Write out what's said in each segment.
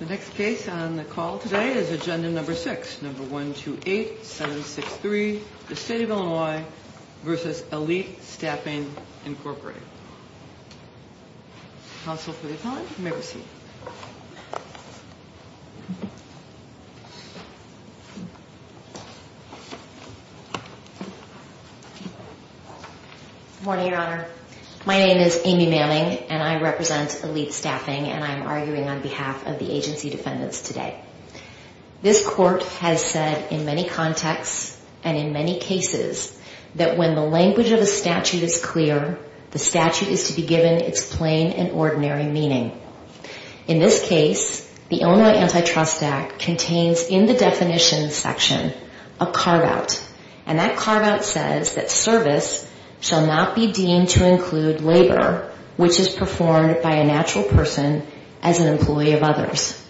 The next case on the call today is Agenda No. 6, No. 128763, the State of Illinois v. Elite Staffing, Inc. Counsel for the Attorney, you may proceed. Good morning, Your Honor. My name is Amy Manning, and I represent Elite Staffing, and I am arguing on behalf of the agency defendants today. This Court has said in many contexts and in many cases that when the language of a statute is clear, the statute is to be given its plain and ordinary meaning. In this case, the Illinois Antitrust Act contains in the definition section a carve-out, and that carve-out says that service shall not be deemed to include labor which is performed by a natural person as an employee of others.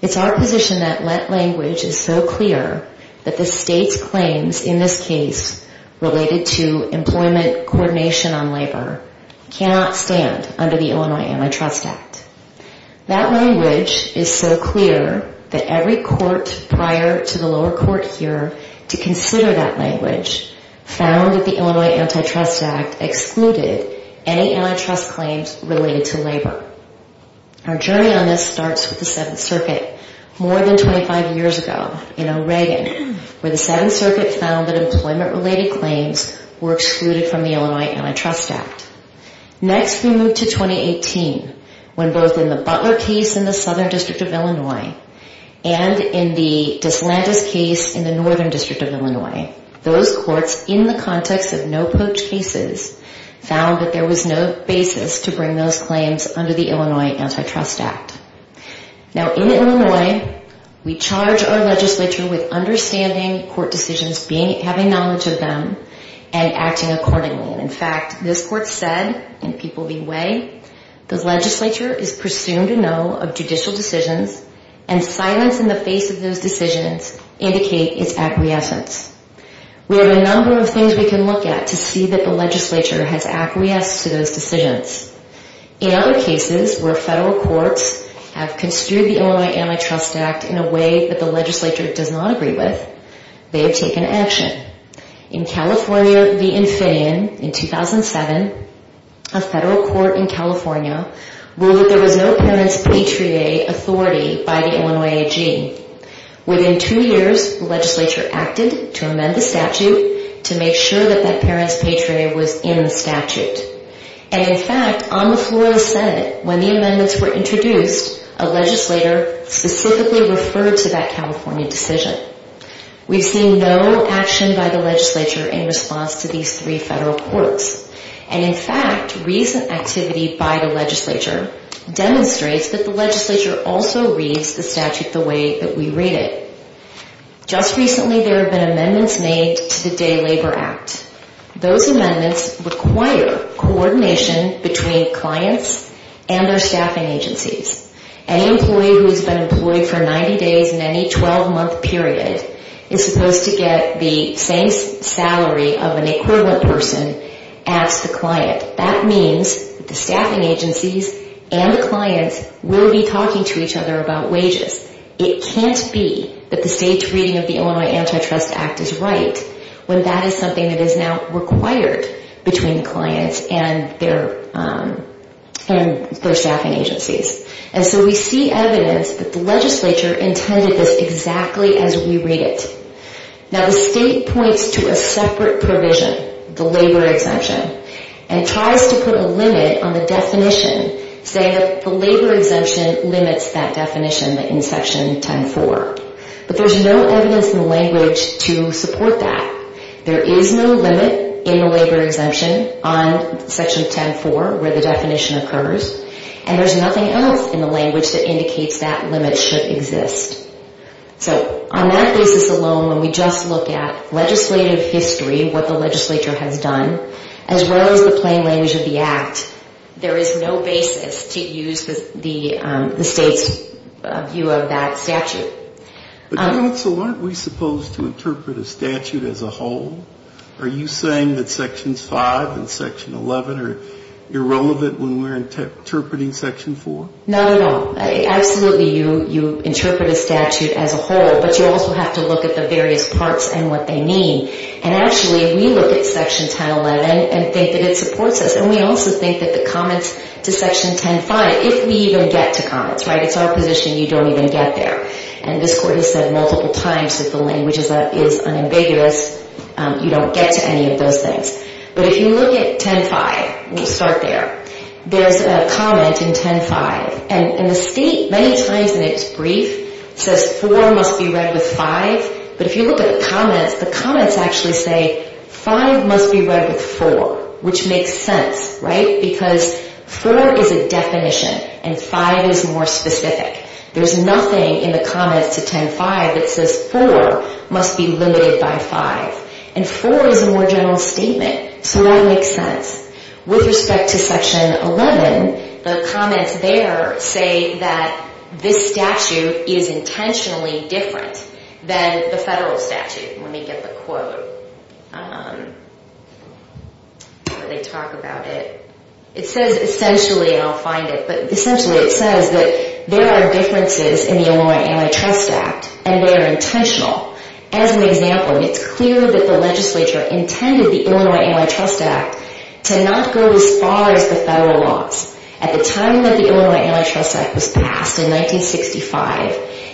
It's our position that that language is so clear that the State's claims in this case related to employment coordination on labor cannot stand under the Illinois Antitrust Act. That language is so clear that every court prior to the lower court here to consider that language found that the Illinois Antitrust Act excluded any antitrust claims related to labor. Our journey on this starts with the Seventh Circuit more than 25 years ago in Oregon where the Seventh Circuit found that employment-related claims were excluded from the Illinois Antitrust Act. Next, we move to 2018 when both in the Butler case in the Southern District of Illinois and in the DeSantis case in the Northern District of Illinois, those courts in the context of no-poach cases found that there was no basis to bring those claims under the Illinois Antitrust Act. Now, in Illinois, we charge our legislature with understanding court decisions, having knowledge of them, and acting accordingly. In fact, this court said in People v. Way, the legislature is presumed to know of judicial decisions and silence in the face of those decisions indicate its acquiescence. We have a number of things we can look at to see that the legislature has acquiesced to those decisions. In other cases where federal courts have construed the Illinois Antitrust Act in a way that the legislature does not agree with, they have taken action. In California v. Infineon in 2007, a federal court in California ruled that there was no parent's patriae authority by the Illinois AG. Within two years, the legislature acted to amend the statute to make sure that that parent's patriae was in the statute. And in fact, on the floor of the Senate, when the amendments were introduced, a legislator specifically referred to that California decision. We've seen no action by the legislature in response to these three federal courts. And in fact, recent activity by the legislature demonstrates that the legislature also reads the statute the way that we read it. Just recently, there have been amendments made to the Day Labor Act. Those amendments require coordination between clients and their staffing agencies. Any employee who has been employed for 90 days in any 12-month period is supposed to get the same salary of an equivalent person as the client. That means that the staffing agencies and the clients will be talking to each other about wages. It can't be that the state's reading of the Illinois Antitrust Act is right when that is something that is now required between the clients and their staffing agencies. And so we see evidence that the legislature intended this exactly as we read it. Now, the state points to a separate provision, the labor exemption, and tries to put a limit on the definition, saying that the labor exemption limits that definition in Section 10-4. But there's no evidence in the language to support that. There is no limit in the labor exemption on Section 10-4 where the definition occurs. And there's nothing else in the language that indicates that limit should exist. So on that basis alone, when we just look at legislative history, what the legislature has done, as well as the plain language of the Act, there is no basis to use the state's view of that statute. But, counsel, aren't we supposed to interpret a statute as a whole? Are you saying that Sections 5 and Section 11 are irrelevant when we're interpreting Section 4? Not at all. Absolutely, you interpret a statute as a whole, but you also have to look at the various parts and what they mean. And actually, we look at Section 10-11 and think that it supports us. And we also think that the comments to Section 10-5, if we even get to comments, right, it's a position you don't even get there. And this Court has said multiple times that the language is unambiguous, you don't get to any of those things. But if you look at 10-5, we'll start there, there's a comment in 10-5, and the state many times in its brief says 4 must be read with 5, but if you look at the comments, the comments actually say 5 must be read with 4, which makes sense, right, because 4 is a definition and 5 is more specific. There's nothing in the comments to 10-5 that says 4 must be limited by 5. And 4 is a more general statement, so that makes sense. With respect to Section 11, the comments there say that this statute is intentionally different than the federal statute, let me get the quote, where they talk about it. It says essentially, and I'll find it, but essentially it says that there are differences in the Illinois Antitrust Act, and they are intentional. As an example, it's clear that the legislature intended the Illinois Antitrust Act to not go as far as the federal laws. At the time that the Illinois Antitrust Act was passed in 1965,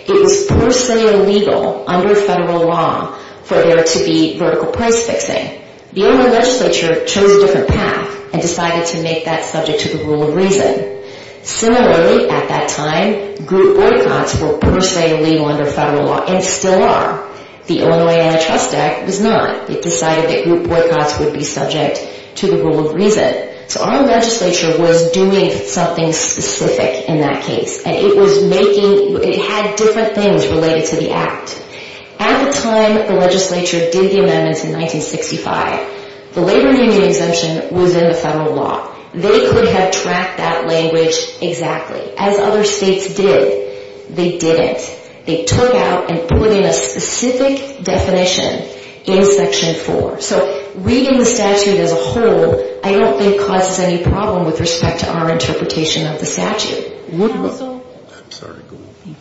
it was per se illegal under federal law for there to be vertical price fixing. The Illinois legislature chose a different path and decided to make that subject to the rule of reason. Similarly, at that time, group boycotts were per se illegal under federal law, and still are. The Illinois Antitrust Act was not. It decided that group boycotts would be subject to the rule of reason. So our legislature was doing something specific in that case, and it was making, it had different things related to the act. At the time the legislature did the amendments in 1965, the labor union exemption was in the federal law. They could have tracked that language exactly, as other states did. They didn't. They took out and put in a specific definition in Section 4. So reading the statute as a whole, I don't think causes any problem with respect to our interpretation of the statute. I'm sorry, go on.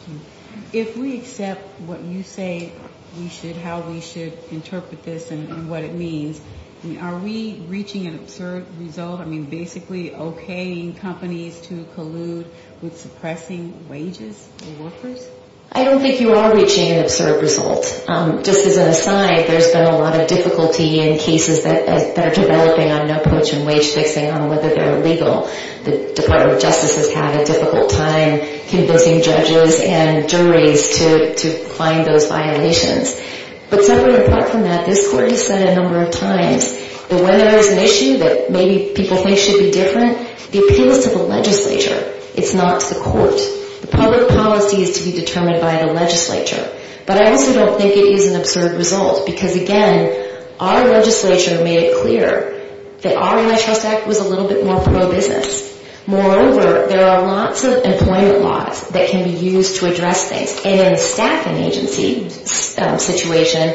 If we accept what you say we should, how we should interpret this and what it means, are we reaching an absurd result? I mean, basically okaying companies to collude with suppressing wages and workers? I don't think you are reaching an absurd result. Just as an aside, there's been a lot of difficulty in cases that are developing on no poach and wage fixing on whether they're illegal. The Department of Justice has had a difficult time convincing judges and juries to find those violations. But separate and apart from that, this court has said a number of times that when there is an issue that maybe people think should be different, the appeal is to the legislature. It's not to the court. The public policy is to be determined by the legislature. But I also don't think it is an absurd result, because again, our legislature made it clear that our interest act was a little bit more pro-business. Moreover, there are lots of employment laws that can be used to address things. And in a staffing agency situation,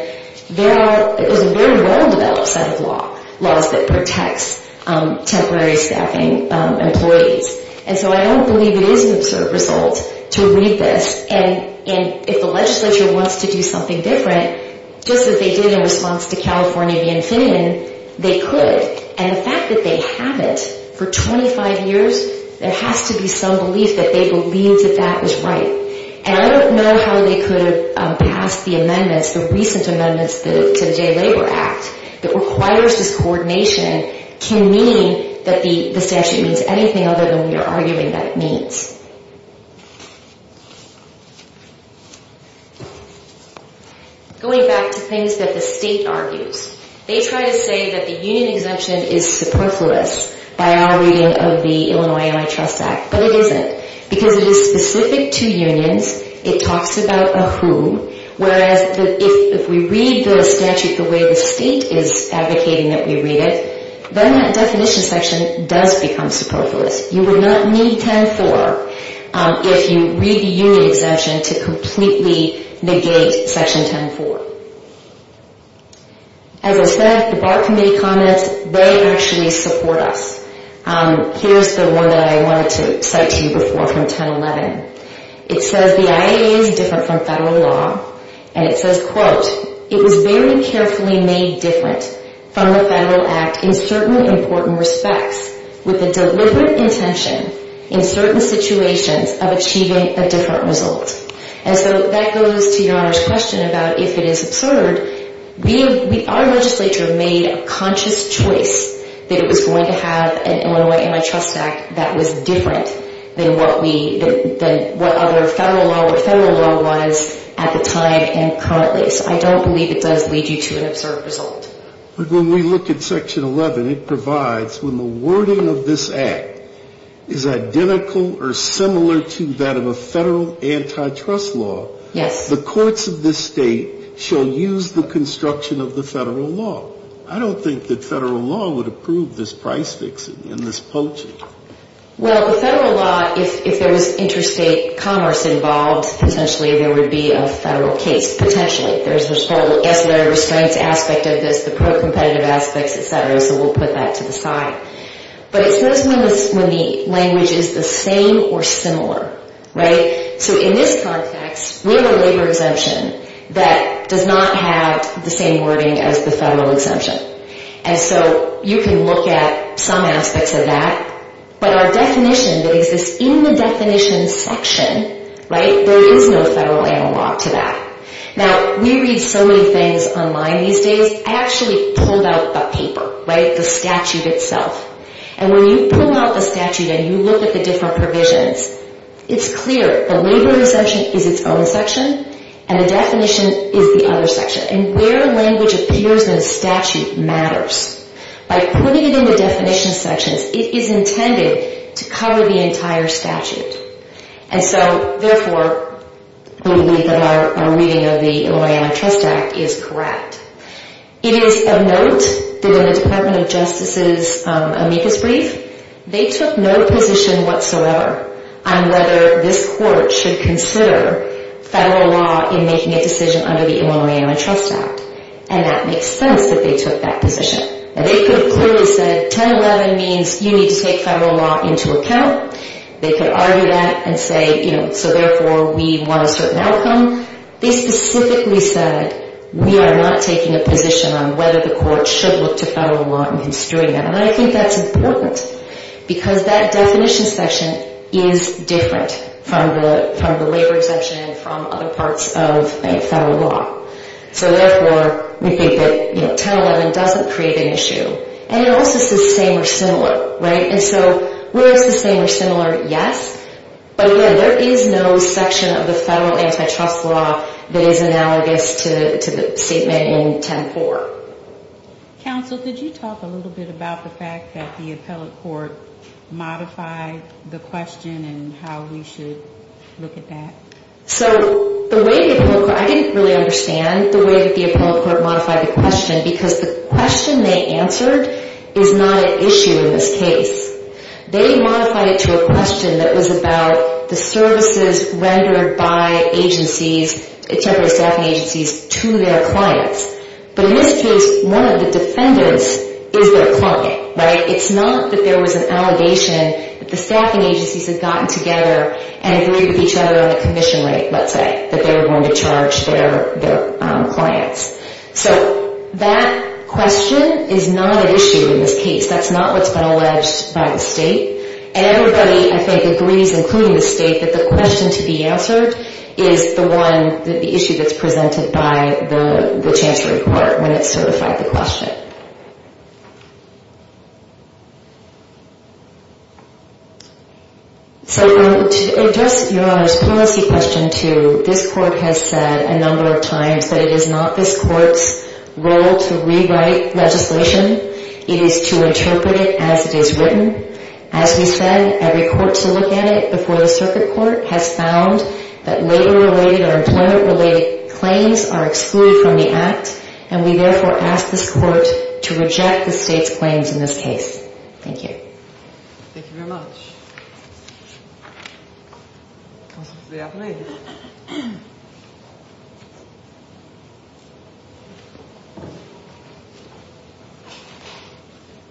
there are, it was a very well-developed set of laws that protects temporary staffing employees. And so I don't believe it is an absurd result to read this. And if the legislature wants to do something different, just as they did in response to California v. Infineon, they could. And the fact that they haven't for 25 years, there has to be some belief that they believe that that is right. And I don't know how they could have passed the amendments, the recent amendments to the Jay Labor Act, that requires this coordination can mean that the statute means anything other than we are arguing that it means. Going back to things that the state argues. They try to say that the union exemption is superfluous by our reading of the Illinois Am I Trust Act. But it isn't. Because it is specific to unions, it talks about a who, whereas if we read the statute the way the state is advocating that we read it, then that definition section does become superfluous. You would not need 10-4 if you read the union exemption to completely negate section 10-4. As I said, the bar committee comments, they actually support us. Here is the one that I wanted to cite to you before from 10-11. It says the IAEA is different from federal law. And it says, quote, it was very carefully made different from the federal act in certain important respects with a deliberate intention in certain situations of achieving a different result. And so that goes to your Honor's question about if it is absurd. Our legislature made a conscious choice that it was going to have an Illinois Am I Trust Act that was different than what other federal law or federal law was at the time and currently. So I don't believe it does lead you to an absurd result. But when we look at section 11, it provides when the wording of this act is identical or similar to that of a federal antitrust law, the courts of this state shall use the construction of the federal law. I don't think that federal law would approve this price fixing and this poaching. Well, the federal law, if there was interstate commerce involved, potentially there would be a federal case, potentially. There's the regulatory restraints aspect of this, the pro-competitive aspects, et cetera. So we'll put that to the side. But it says when the language is the same or similar. Right? So in this context, we have a labor exemption that does not have the same wording as the federal exemption. And so you can look at some aspects of that. But our definition that exists in the definition section, right, there is no federal analog to that. Now, we read so many things online these days. I actually pulled out the paper, right, the statute itself. And when you pull out the statute and you look at the different provisions, it's clear the labor exemption is its own section and the definition is the other section. And where language appears in a statute matters. By putting it in the definition sections, it is intended to cover the entire statute. And so, therefore, we believe that our reading of the Illinois Antitrust Act is correct. It is of note that in the Department of Justice's amicus brief, they took no position whatsoever on whether this court should consider federal law in making a decision under the Illinois Antitrust Act. And that makes sense that they took that position. They could have clearly said 1011 means you need to take federal law into account. They could argue that and say, you know, so, therefore, we want a certain outcome. They specifically said we are not taking a position on whether the court should look to federal law in construing that. And I think that's important because that definition section is different from the labor exemption and from other parts of federal law. So, therefore, we think that, you know, 1011 doesn't create an issue. And it also says same or similar, right? And so, where it's the same or similar, yes. But, yeah, there is no section of the federal antitrust law that is analogous to the statement in 10-4. Counsel, could you talk a little bit about the fact that the appellate court modified the question and how we should look at that? So, the way the appellate court, I didn't really understand the way that the appellate court modified the question because the question they answered is not an issue in this case. They modified it to a question that was about the services rendered by agencies, et cetera, staffing agencies, to their clients. But in this case, one of the defenders is their client, right? It's not that there was an allegation that the staffing agencies had gotten together and agreed with each other on the commission rate, let's say, that they were going to So, that question is not an issue in this case. That's not what's been alleged by the state. And everybody, I think, agrees, including the state, that the question to be answered is the one, the issue that's presented by the chancellery court when it's certified the question. So, to address Your Honor's policy question too, this court has said a number of times that it is not this court's role to rewrite legislation. It is to interpret it as it is written. As we said, every court to look at it before the circuit court has found that labor-related or employment-related claims are excluded from the act. And we, therefore, ask this court to reject the state's claims in this case. Thank you. Thank you very much. Counsel, please be up and ready.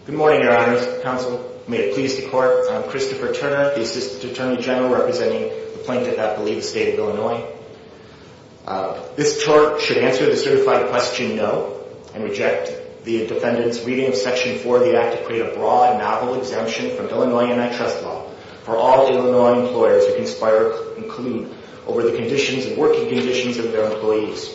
Good morning, Your Honor's counsel. May it please the court, I'm Christopher Turner, the Assistant Attorney General representing the plaintiff at Belize State of Illinois. This court should answer the certified question no and reject the defendant's reading of Section 4 of the Act to create a broad, novel exemption from Illinois Antitrust Law for all Illinois employers who conspire and collude over the conditions and working conditions of their employees.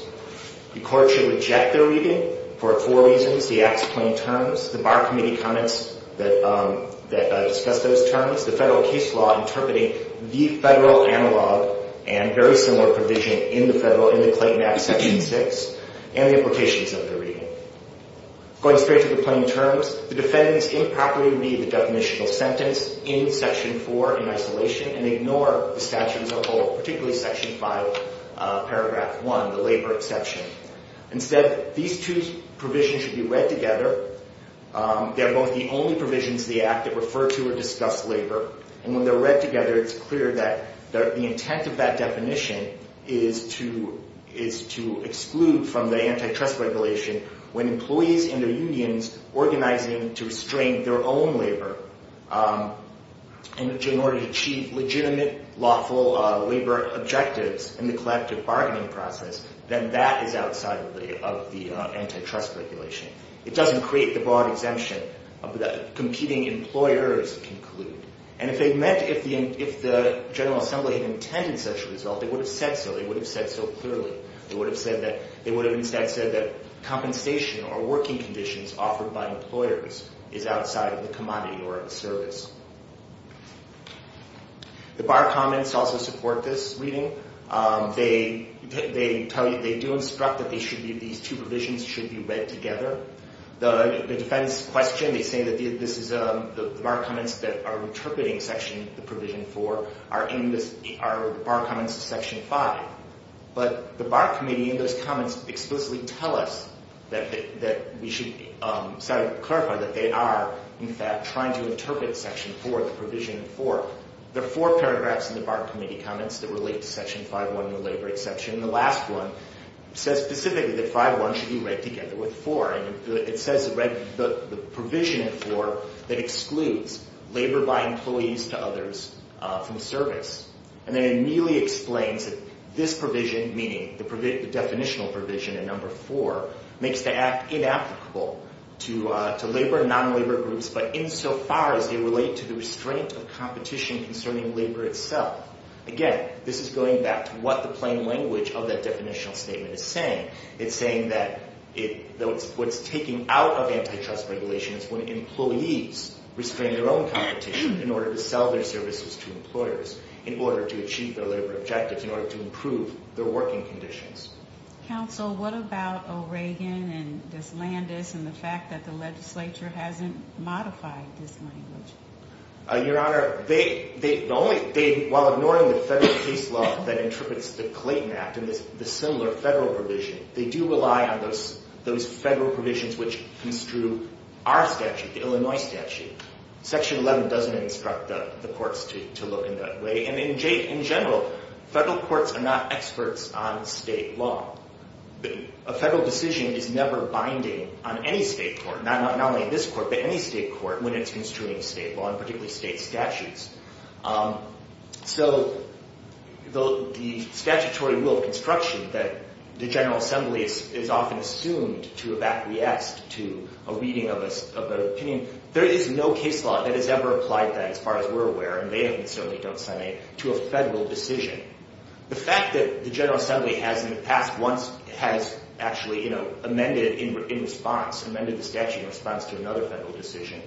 The court should reject their reading for four reasons. The Act's plain terms, the Bar Committee comments that discuss those terms, the federal case law interpreting the federal analog and very similar provision in the Clayton Act Section 6, and the implications of their reading. Going straight to the plain terms, the defendants improperly read the definitional sentence in Section 4 in isolation and ignore the statute as a whole, particularly Section 5, Paragraph 1, the labor exception. Instead, these two provisions should be read together. They're both the only provisions of the Act that refer to or discuss labor. And when they're read together, it's clear that the intent of that definition is to exclude from the antitrust regulation when employees and their unions organizing to restrain their own labor in order to achieve legitimate, lawful labor objectives in the collective bargaining process, then that is outside of the antitrust regulation. It doesn't create the broad exemption that competing employers conclude. And if they meant, if the General Assembly had intended such a result, they would have said so, they would have said so clearly. They would have instead said that compensation or working conditions offered by employers is outside of the commodity or of the service. The Bar comments also support this reading. They do instruct that these two provisions should be read together. The defense question, they say that the Bar comments that are interpreting Section 4 are Bar comments to Section 5. But the Bar committee in those comments explicitly tell us that we should clarify that they are, in fact, trying to interpret Section 4, the provision 4. There are four paragraphs in the Bar committee comments that relate to Section 5.1, the labor exception. The last one says specifically that 5.1 should be read together with 4. And it says the provision 4 that excludes labor by employees to others from service. And then it immediately explains that this provision, meaning the definitional provision in number 4, makes the act inapplicable to labor and non-labor groups, but insofar as they relate to the restraint of competition concerning labor itself. Again, this is going back to what the plain language of that definitional statement is saying. It's saying that what it's taking out of antitrust regulations when employees restrain their own competition in order to sell their services to employers in order to achieve their labor objectives, in order to improve their working conditions. Counsel, what about O'Regan and Dyslandis and the fact that the legislature hasn't modified Dyslandis? Your Honor, while ignoring the federal case law that interprets the Clayton Act and the similar federal provision, they do rely on those federal provisions which construe our statute, the Illinois statute. Section 11 doesn't instruct the courts to look in that way. And in general, federal courts are not experts on state law. A federal decision is never binding on any state court, not only this court, but any state court, when it's construing state law, and particularly state statutes. So the statutory rule of construction that the General Assembly is often assumed to have acquiesced to a reading of an opinion, there is no case law that has ever applied that, as far as we're aware, and they certainly don't say, to a federal decision. The fact that the General Assembly has in the past once actually amended in response, amended the statute in response to another federal decision,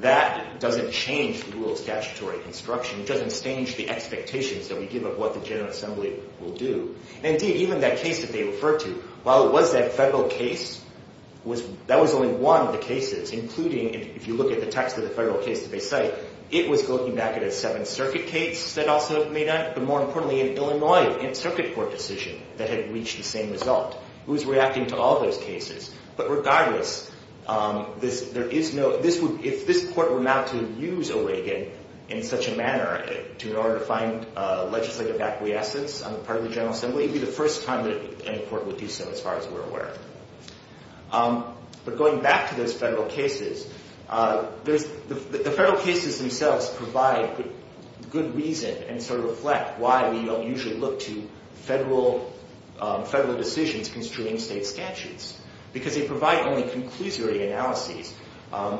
that doesn't change the rule of statutory construction. It doesn't change the expectations that we give of what the General Assembly will do. And indeed, even that case that they refer to, while it was that federal case, that was only one of the cases, including, if you look at the text of the federal case that they cite, it was looking back at a Seventh Circuit case that also may not, but more importantly, an Illinois circuit court decision that had reached the same result. It was reacting to all those cases. But regardless, if this court were not to use O'Regan in such a manner in order to find legislative acquiescence on the part of the General Assembly, it would be the first time that any court would do so, as far as we're aware. But going back to those federal cases, the federal cases themselves provide good reason and sort of reflect why we don't usually look to federal decisions construing state statutes. Because they provide only conclusory analyses,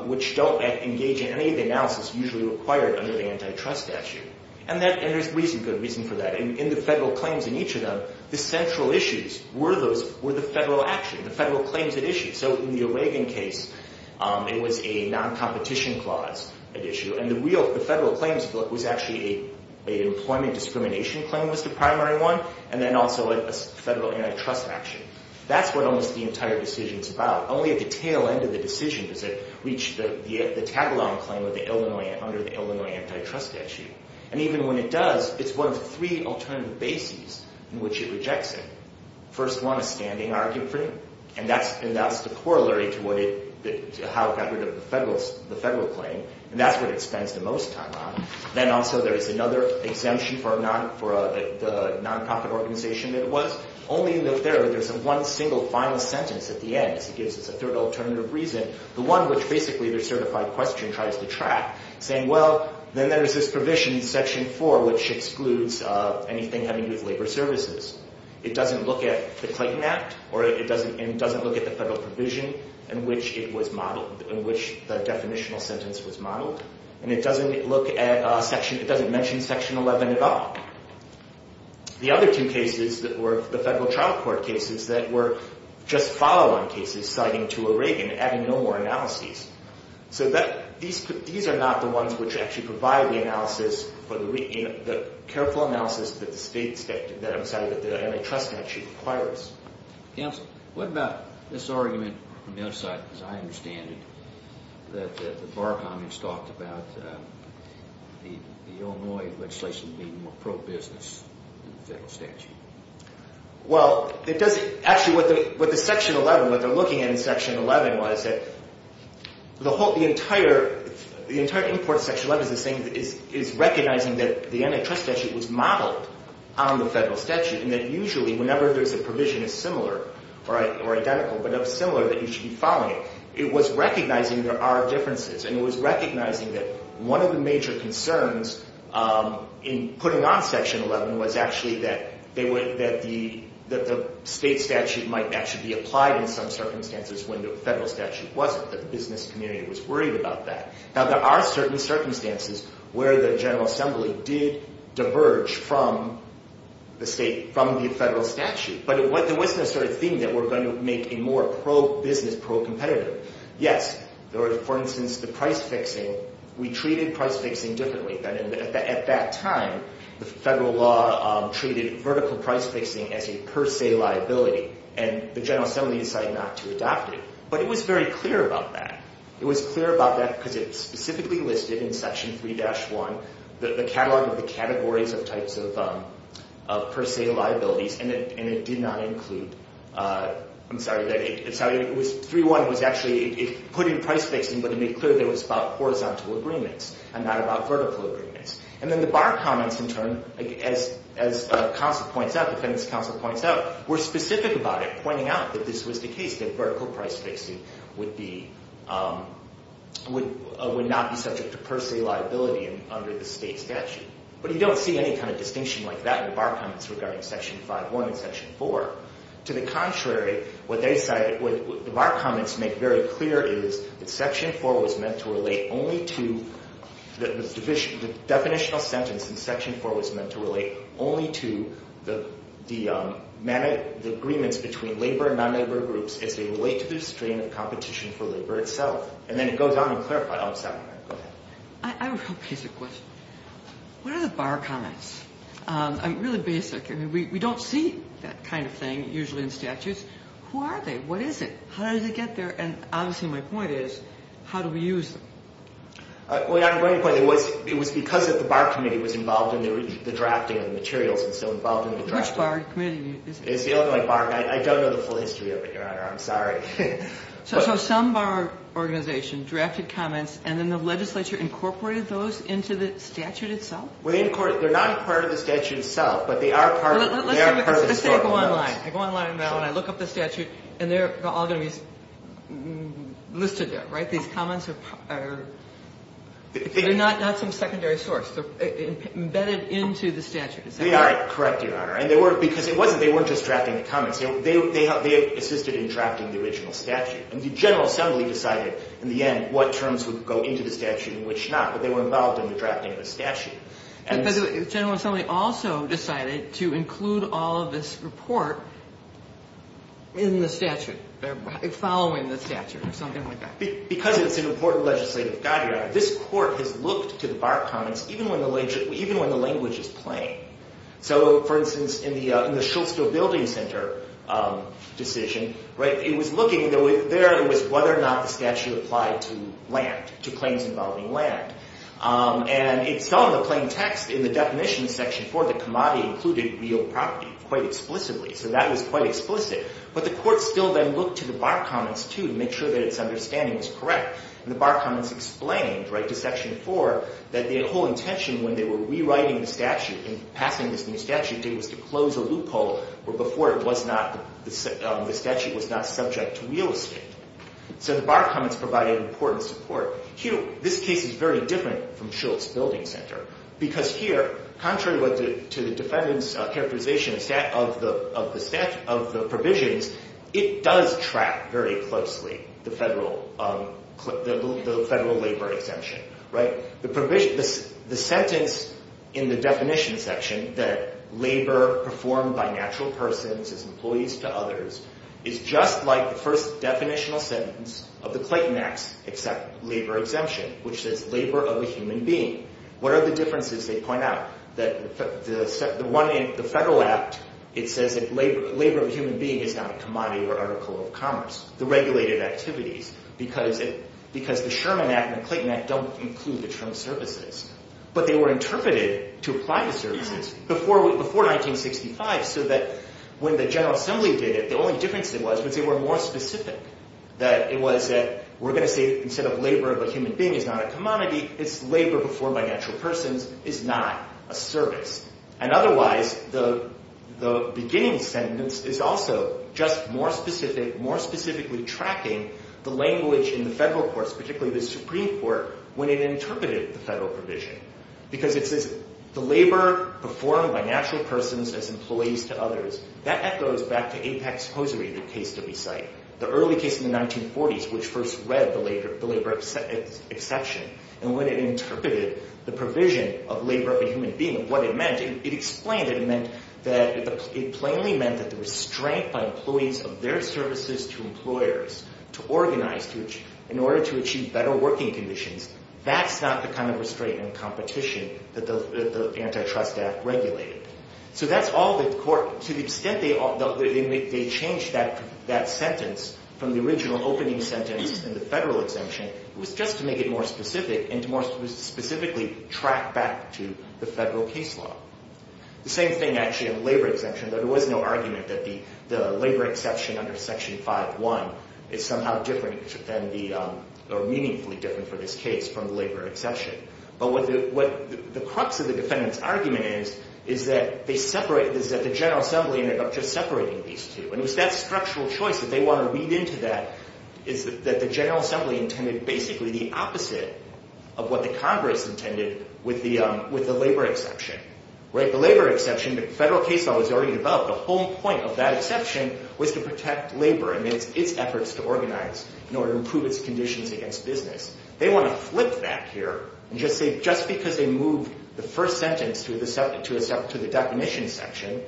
which don't engage in any of the analysis usually required under the antitrust statute. And there's good reason for that. In the federal claims in each of them, the central issues were the federal action, the federal claims at issue. So in the O'Regan case, it was a non-competition clause at issue. And the real federal claims was actually an employment discrimination claim was the primary one, and then also a federal antitrust action. That's what almost the entire decision is about. Only at the tail end of the decision does it reach the tag-along claim under the Illinois antitrust statute. And even when it does, it's one of three alternative bases in which it rejects it. First one, a standing argument. And that's the corollary to how it got rid of the federal claim. And that's what it spends the most time on. Then also there is another exemption for the non-profit organization that it was. Only in the third, there's one single final sentence at the end. It gives us a third alternative reason, the one which basically the certified question tries to track, saying, well, then there's this provision in Section 4 which excludes anything having to do with labor services. It doesn't look at the Clayton Act, and it doesn't look at the federal provision in which it was modeled, in which the definitional sentence was modeled. And it doesn't mention Section 11 at all. The other two cases were the federal trial court cases that were just follow-on cases citing to O'Regan, adding no more analyses. So these are not the ones which actually provide the analysis, the careful analysis that the antitrust statute requires. Counsel, what about this argument on the other side? As I understand it, the Bar Commons talked about the Illinois legislation being more pro-business than the federal statute. Well, actually what they're looking at in Section 11 was that the entire import of Section 11 is recognizing that the antitrust statute was modeled on the federal statute and that usually whenever there's a provision that's similar or identical, but of similar, that you should be following it. It was recognizing there are differences, and it was recognizing that one of the major concerns in putting on Section 11 was actually that the state statute might actually be applied in some circumstances when the federal statute wasn't, that the business community was worried about that. Now, there are certain circumstances where the General Assembly did diverge from the federal statute, but it wasn't a sort of thing that we're going to make a more pro-business, pro-competitive. Yes, for instance, the price fixing, we treated price fixing differently. At that time, the federal law treated vertical price fixing as a per se liability, and the General Assembly decided not to adopt it. But it was very clear about that. It was clear about that because it specifically listed in Section 3-1 the catalog of the categories of types of per se liabilities, and it did not include, I'm sorry, 3-1 was actually, it put in price fixing, but it made clear that it was about horizontal agreements and not about vertical agreements. And then the Barr comments, in turn, as counsel points out, the defendant's counsel points out, were specific about it, pointing out that this was the case, that vertical price fixing would not be subject to per se liability under the state statute. But you don't see any kind of distinction like that in the Barr comments regarding Section 5-1 and Section 4. To the contrary, what the Barr comments make very clear is that Section 4 was meant to relate only to, the definitional sentence in Section 4 was meant to relate only to the agreements between labor and non-labor groups as they relate to the restraint of competition for labor itself. And then it goes on to clarify all of a sudden. Go ahead. I have a real basic question. What are the Barr comments? I mean, really basic. I mean, we don't see that kind of thing usually in statutes. Who are they? What is it? How did they get there? And obviously my point is, how do we use them? Well, you have a great point. It was because the Barr committee was involved in the drafting of the materials and so involved in the drafting. Which Barr committee? It's the only one. I don't know the full history of it, Your Honor. I'm sorry. So some Barr organization drafted comments and then the legislature incorporated those into the statute itself? They're not part of the statute itself, but they are part of the historical notes. Let's say I go online. I go online and I look up the statute and they're all going to be listed there, right? These comments are not some secondary source. They're embedded into the statute. Is that right? Correct, Your Honor. And because they weren't just drafting the comments. They assisted in drafting the original statute. And the General Assembly decided in the end what terms would go into the statute and which not. But they were involved in the drafting of the statute. The General Assembly also decided to include all of this report in the statute, following the statute or something like that. Because it's an important legislative guide, Your Honor, this court has looked to the Barr comments even when the language is plain. So, for instance, in the Schultzville Building Center decision, it was looking whether or not the statute applied to land, to claims involving land. And it's all in the plain text. In the definition in Section 4, the commodity included real property quite explicitly. So that was quite explicit. But the court still then looked to the Barr comments to make sure that its understanding was correct. And the Barr comments explained to Section 4 that the whole intention when they were rewriting the statute and passing this new statute was to close a loophole where before the statute was not subject to real estate. So the Barr comments provided important support. This case is very different from Schultz Building Center. Because here, contrary to the defendant's characterization of the provisions, it does track very closely the federal labor exemption. The sentence in the definition section that labor performed by natural persons as employees to others is just like the first definitional sentence of the Clayton Act's labor exemption, which says labor of a human being. What are the differences they point out? The federal act, it says that labor of a human being is not a commodity or article of commerce, the regulated activities. Because the Sherman Act and the Clayton Act don't include the term services. But they were interpreted to apply the services before 1965 so that when the General Assembly did it, the only difference it was was they were more specific. It was that we're going to say instead of labor of a human being is not a commodity, it's labor performed by natural persons is not a service. And otherwise, the beginning sentence is also just more specifically tracking the language in the federal courts, particularly the Supreme Court, when it interpreted the federal provision. Because it says the labor performed by natural persons as employees to others. That echoes back to Apex Hosiery, the case to be cited. The early case in the 1940s, which first read the labor exception. And when it interpreted the provision of labor of a human being, what it meant, it explained it. It meant that it plainly meant that the restraint by employees of their services to employers to organize in order to achieve better working conditions, that's not the kind of restraint and competition that the antitrust act regulated. So that's all the court, to the extent they changed that sentence from the original opening sentence in the federal exemption, it was just to make it more specific and to more specifically track back to the federal case law. The same thing actually in the labor exemption. There was no argument that the labor exception under Section 5.1 is somehow different than the, or meaningfully different for this case from the labor exception. But what the crux of the defendant's argument is, is that they separated, is that the General Assembly ended up just separating these two. And it was that structural choice that they want to read into that, is that the General Assembly intended basically the opposite of what the Congress intended with the labor exception. The labor exception, the federal case law was already developed. The whole point of that exception was to protect labor and its efforts to organize in order to improve its conditions against business. They want to flip that here and just say just because they moved the first sentence to the definition section,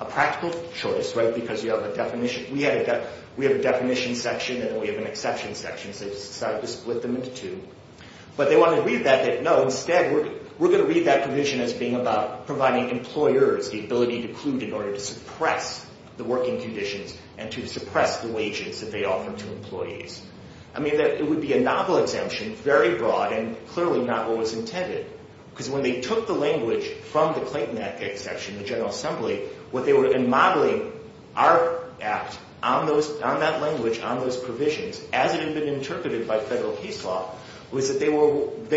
a practical choice, right, because you have a definition. We have a definition section and we have an exception section, so they decided to split them into two. But they want to read that, no, instead we're going to read that provision as being about providing employers the ability to include in order to suppress the working conditions and to suppress the wages that they offer to employees. I mean that it would be a novel exemption, very broad, and clearly not what was intended. Because when they took the language from the Clayton Act exception, the General Assembly, what they were modeling our act on that language, on those provisions, as it had been interpreted by federal case law, was that they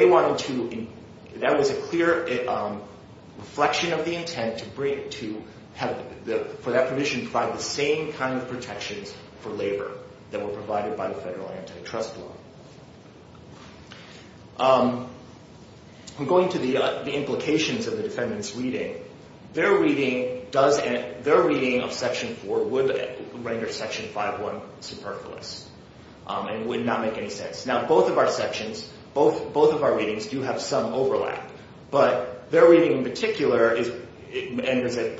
wanted to – that was a clear reflection of the intent to have – for that provision to provide the same kind of protections for labor that were provided by the federal antitrust law. I'm going to the implications of the defendant's reading. Their reading does – their reading of Section 4 would render Section 5-1 superfluous and would not make any sense. Now, both of our sections, both of our readings do have some overlap, but their reading in particular is – and is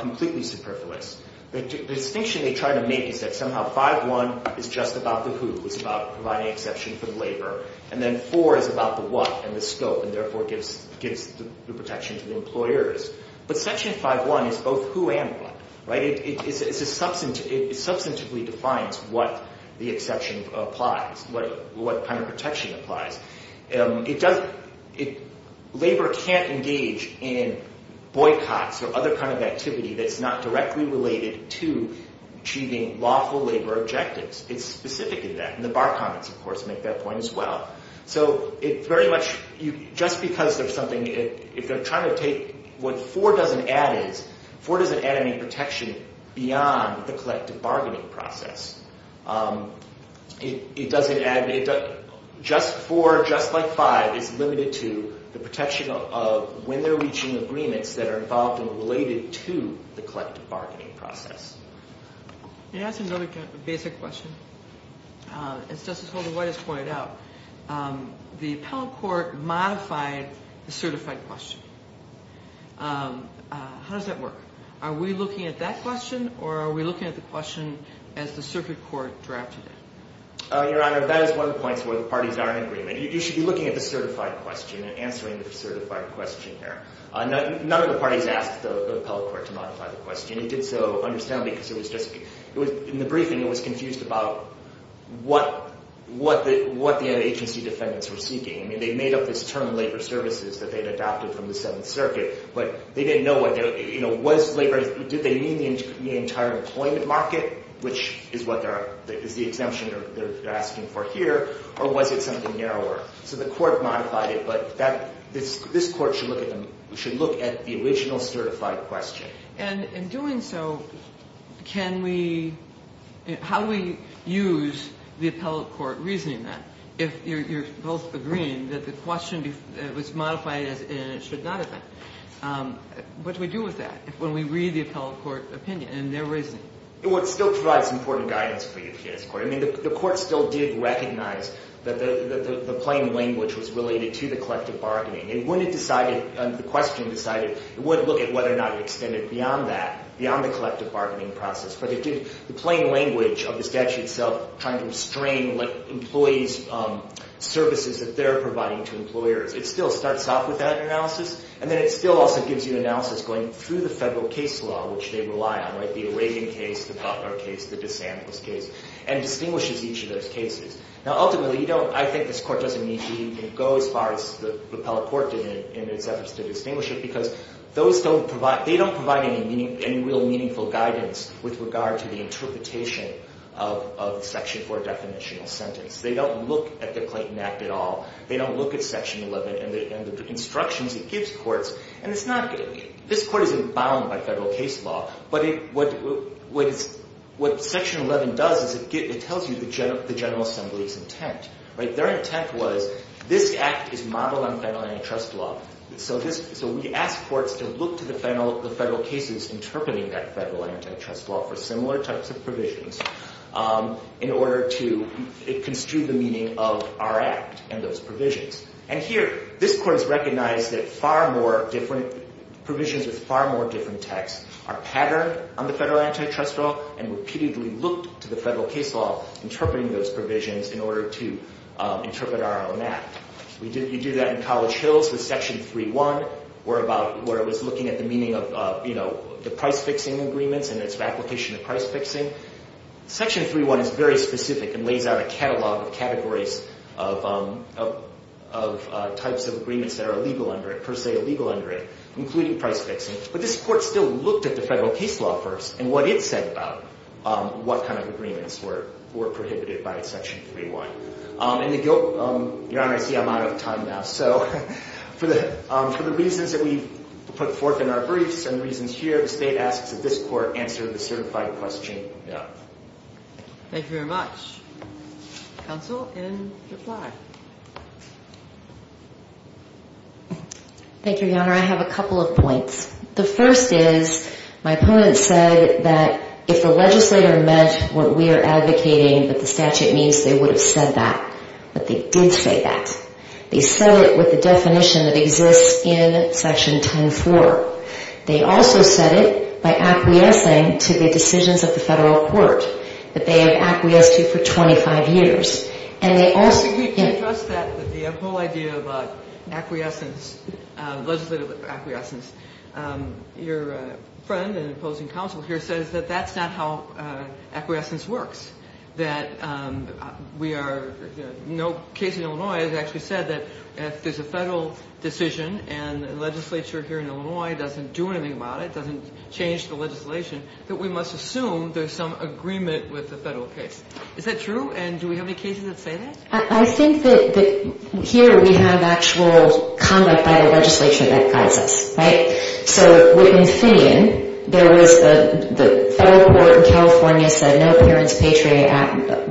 completely superfluous. The distinction they try to make is that somehow 5-1 is just about the who. It's about providing exception for the labor. And then 4 is about the what and the scope and therefore gives the protection to the employers. But Section 5-1 is both who and what. It substantively defines what the exception applies, what kind of protection applies. It does – labor can't engage in boycotts or other kind of activity that's not directly related to achieving lawful labor objectives. It's specific in that. And the bar comments, of course, make that point as well. So it very much – just because there's something – if they're trying to take what 4 doesn't add is, 4 doesn't add any protection beyond the collective bargaining process. It doesn't add – just 4, just like 5, is limited to the protection of when they're reaching agreements that are involved and related to the collective bargaining process. Can I ask another basic question? As Justice Holder-White has pointed out, the appellate court modified the certified question. How does that work? Are we looking at that question or are we looking at the question as the circuit court drafted it? Your Honor, that is one of the points where the parties are in agreement. You should be looking at the certified question and answering the certified question there. None of the parties asked the appellate court to modify the question. It did so, understandably, because it was just – in the briefing, it was confused about what the agency defendants were seeking. I mean, they made up this term labor services that they had adopted from the Seventh Circuit, but they didn't know whether – you know, was labor – did they mean the entire employment market, which is what they're – is the exemption they're asking for here, or was it something narrower? So the court modified it, but that – this court should look at the original certified question. And in doing so, can we – how do we use the appellate court reasoning then if you're both agreeing that the question was modified and it should not have been? What do we do with that when we read the appellate court opinion in their reasoning? Well, it still provides important guidance for UPS court. I mean, the court still did recognize that the plain language was related to the collective bargaining. And when it decided – the question decided, it would look at whether or not it extended beyond that, beyond the collective bargaining process. But it did – the plain language of the statute itself trying to restrain employees' services that they're providing to employers, it still starts off with that analysis. And then it still also gives you analysis going through the federal case law, which they rely on, right, the Reagan case, the Buffner case, the DeSantis case, and distinguishes each of those cases. Now, ultimately, you don't – I think this court doesn't need to go as far as the appellate court did in its efforts to distinguish it because those don't provide – they don't provide any real meaningful guidance with regard to the interpretation of the Section 4 definitional sentence. They don't look at the Clayton Act at all. They don't look at Section 11 and the instructions it gives courts. And it's not – this court isn't bound by federal case law, but what Section 11 does is it tells you the General Assembly's intent, right? Their intent was this act is modeled on federal antitrust law. So this – so we ask courts to look to the federal cases interpreting that federal antitrust law for similar types of provisions in order to construe the meaning of our act and those provisions. And here, this court has recognized that far more different – provisions with far more different texts are patterned on the federal antitrust law and repeatedly looked to the federal case law interpreting those provisions in order to interpret our own act. We do that in College Hills with Section 3.1 where about – where it was looking at the meaning of the price-fixing agreements and its application of price-fixing. Section 3.1 is very specific and lays out a catalog of categories of types of agreements that are illegal under it, per se illegal under it, including price-fixing. But this court still looked at the federal case law first and what it said about what kind of agreements were prohibited by Section 3.1. And the guilt – Your Honor, I see I'm out of time now. So for the reasons that we've put forth in our briefs and the reasons here, the State asks that this court answer the certified question. Thank you very much. Counsel, in reply. Thank you, Your Honor. I have a couple of points. The first is my opponent said that if the legislator meant what we are advocating that the statute means, they would have said that. But they did say that. They said it with the definition that exists in Section 10.4. They also said it by acquiescing to the decisions of the federal court that they have acquiesced to for 25 years. And they also – We can trust that the whole idea of acquiescence, legislative acquiescence. Your friend and opposing counsel here says that that's not how acquiescence works, that we are – no case in Illinois has actually said that if there's a federal decision and the legislature here in Illinois doesn't do anything about it, doesn't change the legislation, that we must assume there's some agreement with the federal case. Is that true? And do we have any cases that say that? I think that here we have actual conduct by the legislature that guides us, right? So with Finnegan, there was – the federal court in California said no parents' patron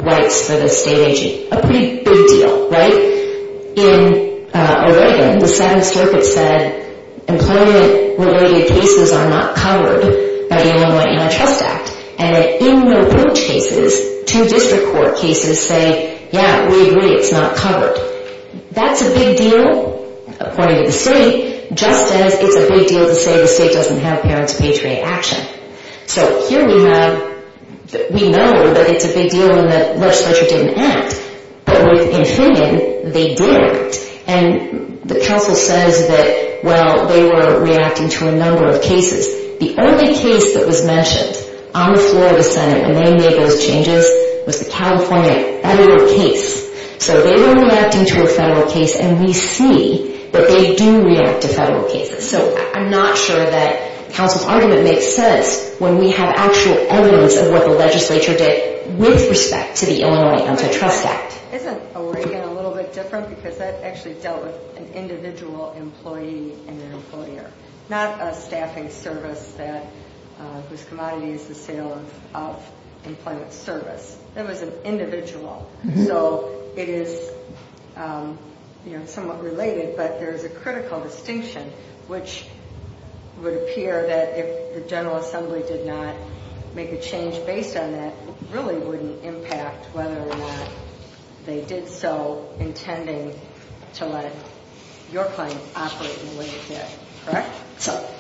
rights for the state agency. A pretty big deal, right? In Oregon, the 7th Circuit said employment-related cases are not covered by the Illinois Antitrust Act. And in the Ridge cases, two district court cases say, yeah, we agree, it's not covered. That's a big deal, according to the state, just as it's a big deal to say the state doesn't have parents' patron action. So here we have – we know that it's a big deal and the legislature didn't act. But with Finnegan, they did act. And the counsel says that, well, they were reacting to a number of cases. The only case that was mentioned on the floor of the Senate when they made those changes was the California federal case. So they were reacting to a federal case, and we see that they do react to federal cases. So I'm not sure that counsel's argument makes sense when we have actual evidence of what the legislature did with respect to the Illinois Antitrust Act. Isn't Oregon a little bit different? Because that actually dealt with an individual employee and their employer, not a staffing service whose commodity is the sale of employment service. That was an individual. So it is somewhat related, but there is a critical distinction, which would appear that if the General Assembly did not make a change based on that, it really wouldn't impact whether or not they did so intending to let your claim operate in the way it did. Correct?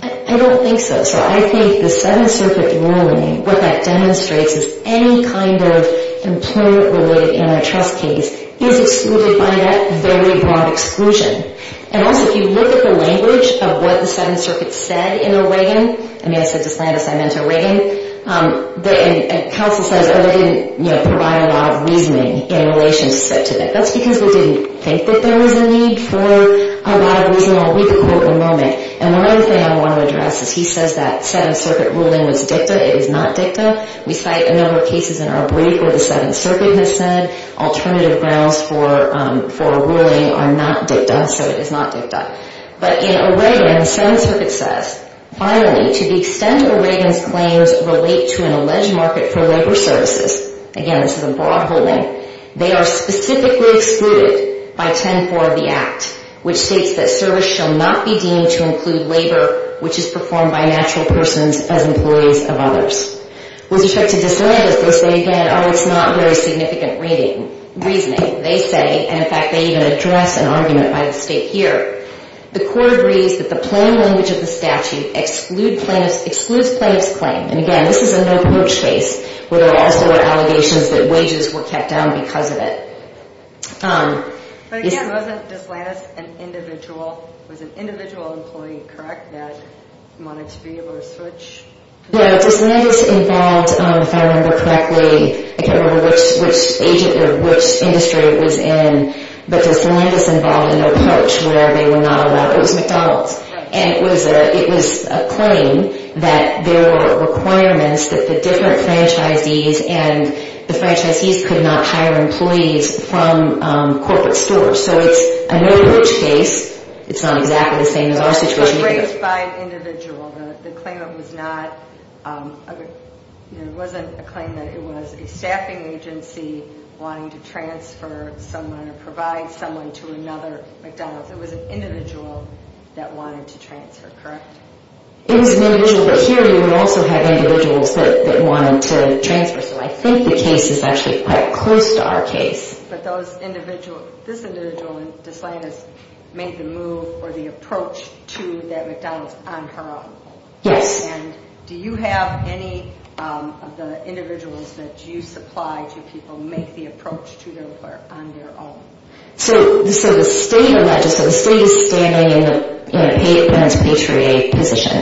I don't think so. So I think the Seventh Circuit ruling, what that demonstrates is any kind of employment-related antitrust case is excluded by that very broad exclusion. And also, if you look at the language of what the Seventh Circuit said in Oregon, I mean, I said to Slandus, I meant Oregon, and counsel says, oh, they didn't provide a lot of reasoning in relation to that. That's because they didn't think that there was a need for a lot of reasonable, we could quote, enrollment. And one other thing I want to address is he says that Seventh Circuit ruling was dicta. It is not dicta. We cite a number of cases in our brief where the Seventh Circuit has said alternative grounds for a ruling are not dicta, so it is not dicta. But in Oregon, the Seventh Circuit says, finally, to the extent Oregon's claims relate to an alleged market for labor services, again, this is a broad ruling, they are specifically excluded by 10-4 of the Act, which states that service shall not be deemed to include labor, which is performed by natural persons as employees of others. With respect to Slandus, they say, again, oh, it's not very significant reasoning, they say. And, in fact, they even address an argument by the state here. The court agrees that the plain language of the statute excludes plaintiff's claim. And, again, this is a no-coach case where there also were allegations that wages were kept down because of it. But, again, wasn't Slandus an individual? It was an individual employee, correct, that wanted to be able to switch? Yeah, Slandus involved, if I remember correctly, I can't remember which industry it was in, but Slandus involved an approach where they were not allowed. It was McDonald's. And it was a claim that there were requirements that the different franchisees and the franchisees could not hire employees from corporate stores. So it's a no-coach case. It's not exactly the same as our situation either. But it was raised by an individual. The claimant was not, you know, it wasn't a claimant. It was a staffing agency wanting to transfer someone or provide someone to another McDonald's. It was an individual that wanted to transfer, correct? It was an individual. But here you would also have individuals that wanted to transfer. So I think the case is actually quite close to our case. But this individual, Slandus, made the move or the approach to that McDonald's on her own? Yes. And do you have any of the individuals that you supply to people make the approach to them on their own? So the state is standing in a Patriot position.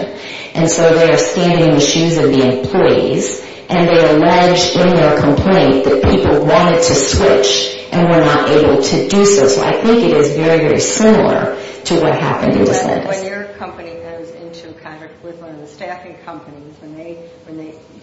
And so they are standing in the shoes of the employees. And they allege in their complaint that people wanted to switch and were not able to do so. So I think it is very, very similar to what happened in Slandus. When your company goes into contact with one of the staffing companies,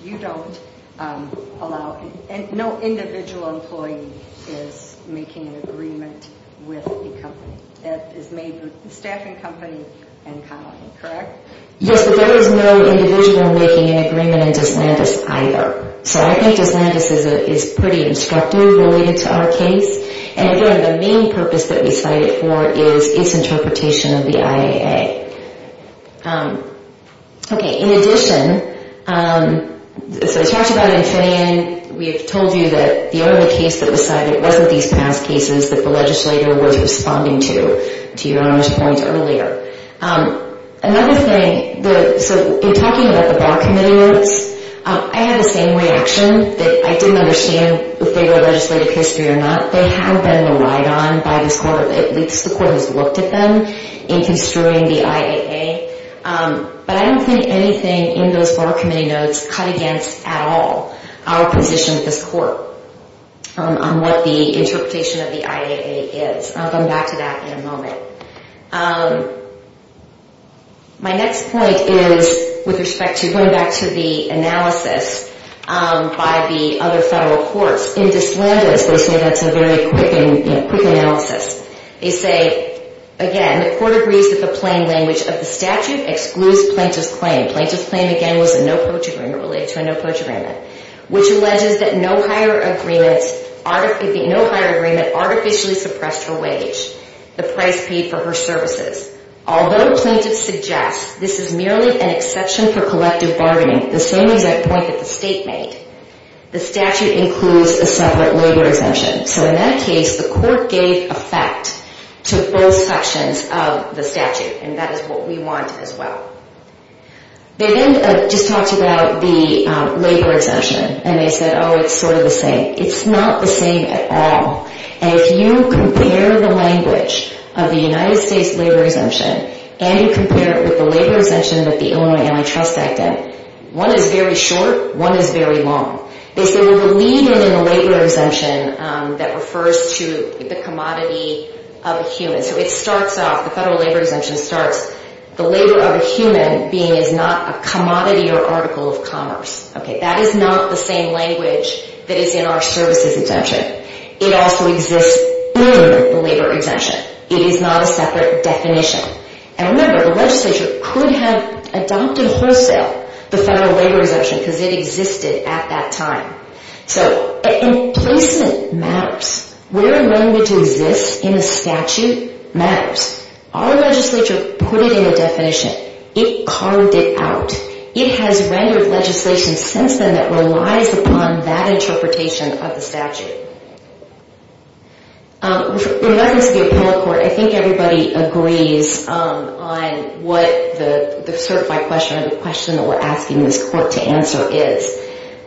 you don't allow, and no individual employee is making an agreement with the company. It is made with the staffing company and colleagues, correct? Yes, but there is no individual making an agreement in Slandus either. So I think Slandus is pretty instructive related to our case. And again, the main purpose that we cited for is its interpretation of the IAA. Okay, in addition, so I talked about Infineon. We have told you that the only case that was cited wasn't these past cases that the legislator was responding to, to your honor's point earlier. Another thing, so in talking about the Bar Committee notes, I had the same reaction that I didn't understand if they were legislative history or not. They have been relied on by this court, at least the court has looked at them, in construing the IAA. But I don't think anything in those Bar Committee notes cut against at all our position at this court on what the interpretation of the IAA is. And I'll come back to that in a moment. My next point is with respect to going back to the analysis by the other federal courts. In Slandus, they say that's a very quick analysis. They say, again, the court agrees that the plain language of the statute excludes plaintiff's claim. Plaintiff's claim, again, was a no-poach agreement related to a no-poach agreement, which alleges that no higher agreement artificially suppressed her wage, the price paid for her services. Although plaintiffs suggest this is merely an exception for collective bargaining, the same exact point that the state made, the statute includes a separate labor exemption. So in that case, the court gave effect to both sections of the statute. And that is what we want as well. They then just talked about the labor exemption. And they said, oh, it's sort of the same. It's not the same at all. And if you compare the language of the United States labor exemption and you compare it with the labor exemption that the Illinois Antitrust Act did, one is very short, one is very long. They say we believe in a labor exemption that refers to the commodity of a human. So it starts off, the federal labor exemption starts, the labor of a human being is not a commodity or article of commerce. Okay, that is not the same language that is in our services exemption. It also exists in the labor exemption. It is not a separate definition. And remember, the legislature could have adopted wholesale the federal labor exemption because it existed at that time. So placement matters. Where a language exists in a statute matters. Our legislature put it in a definition. It carved it out. It has rendered legislation since then that relies upon that interpretation of the statute. In reference to the appellate court, I think everybody agrees on what the certified question or the question that we're asking this court to answer is.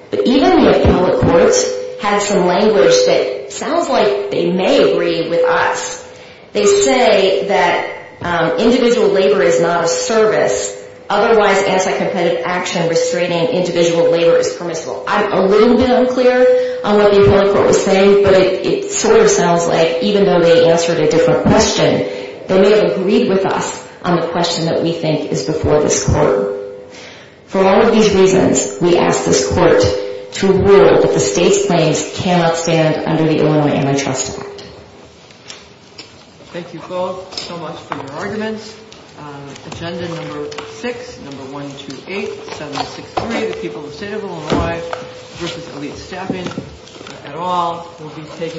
But even the appellate court has some language that sounds like they may agree with us. They say that individual labor is not a service. Otherwise, anti-competitive action restraining individual labor is permissible. I'm a little bit unclear on what the appellate court was saying, but it sort of sounds like even though they answered a different question, they may have agreed with us on the question that we think is before this court. For all of these reasons, we ask this court to rule that the state's claims cannot stand under the Illinois Antitrust Act. Thank you both so much for your arguments. Agenda number six, number 128763, the people of the state of Illinois, versus elite staffing at all, will be taken under the state of Illinois.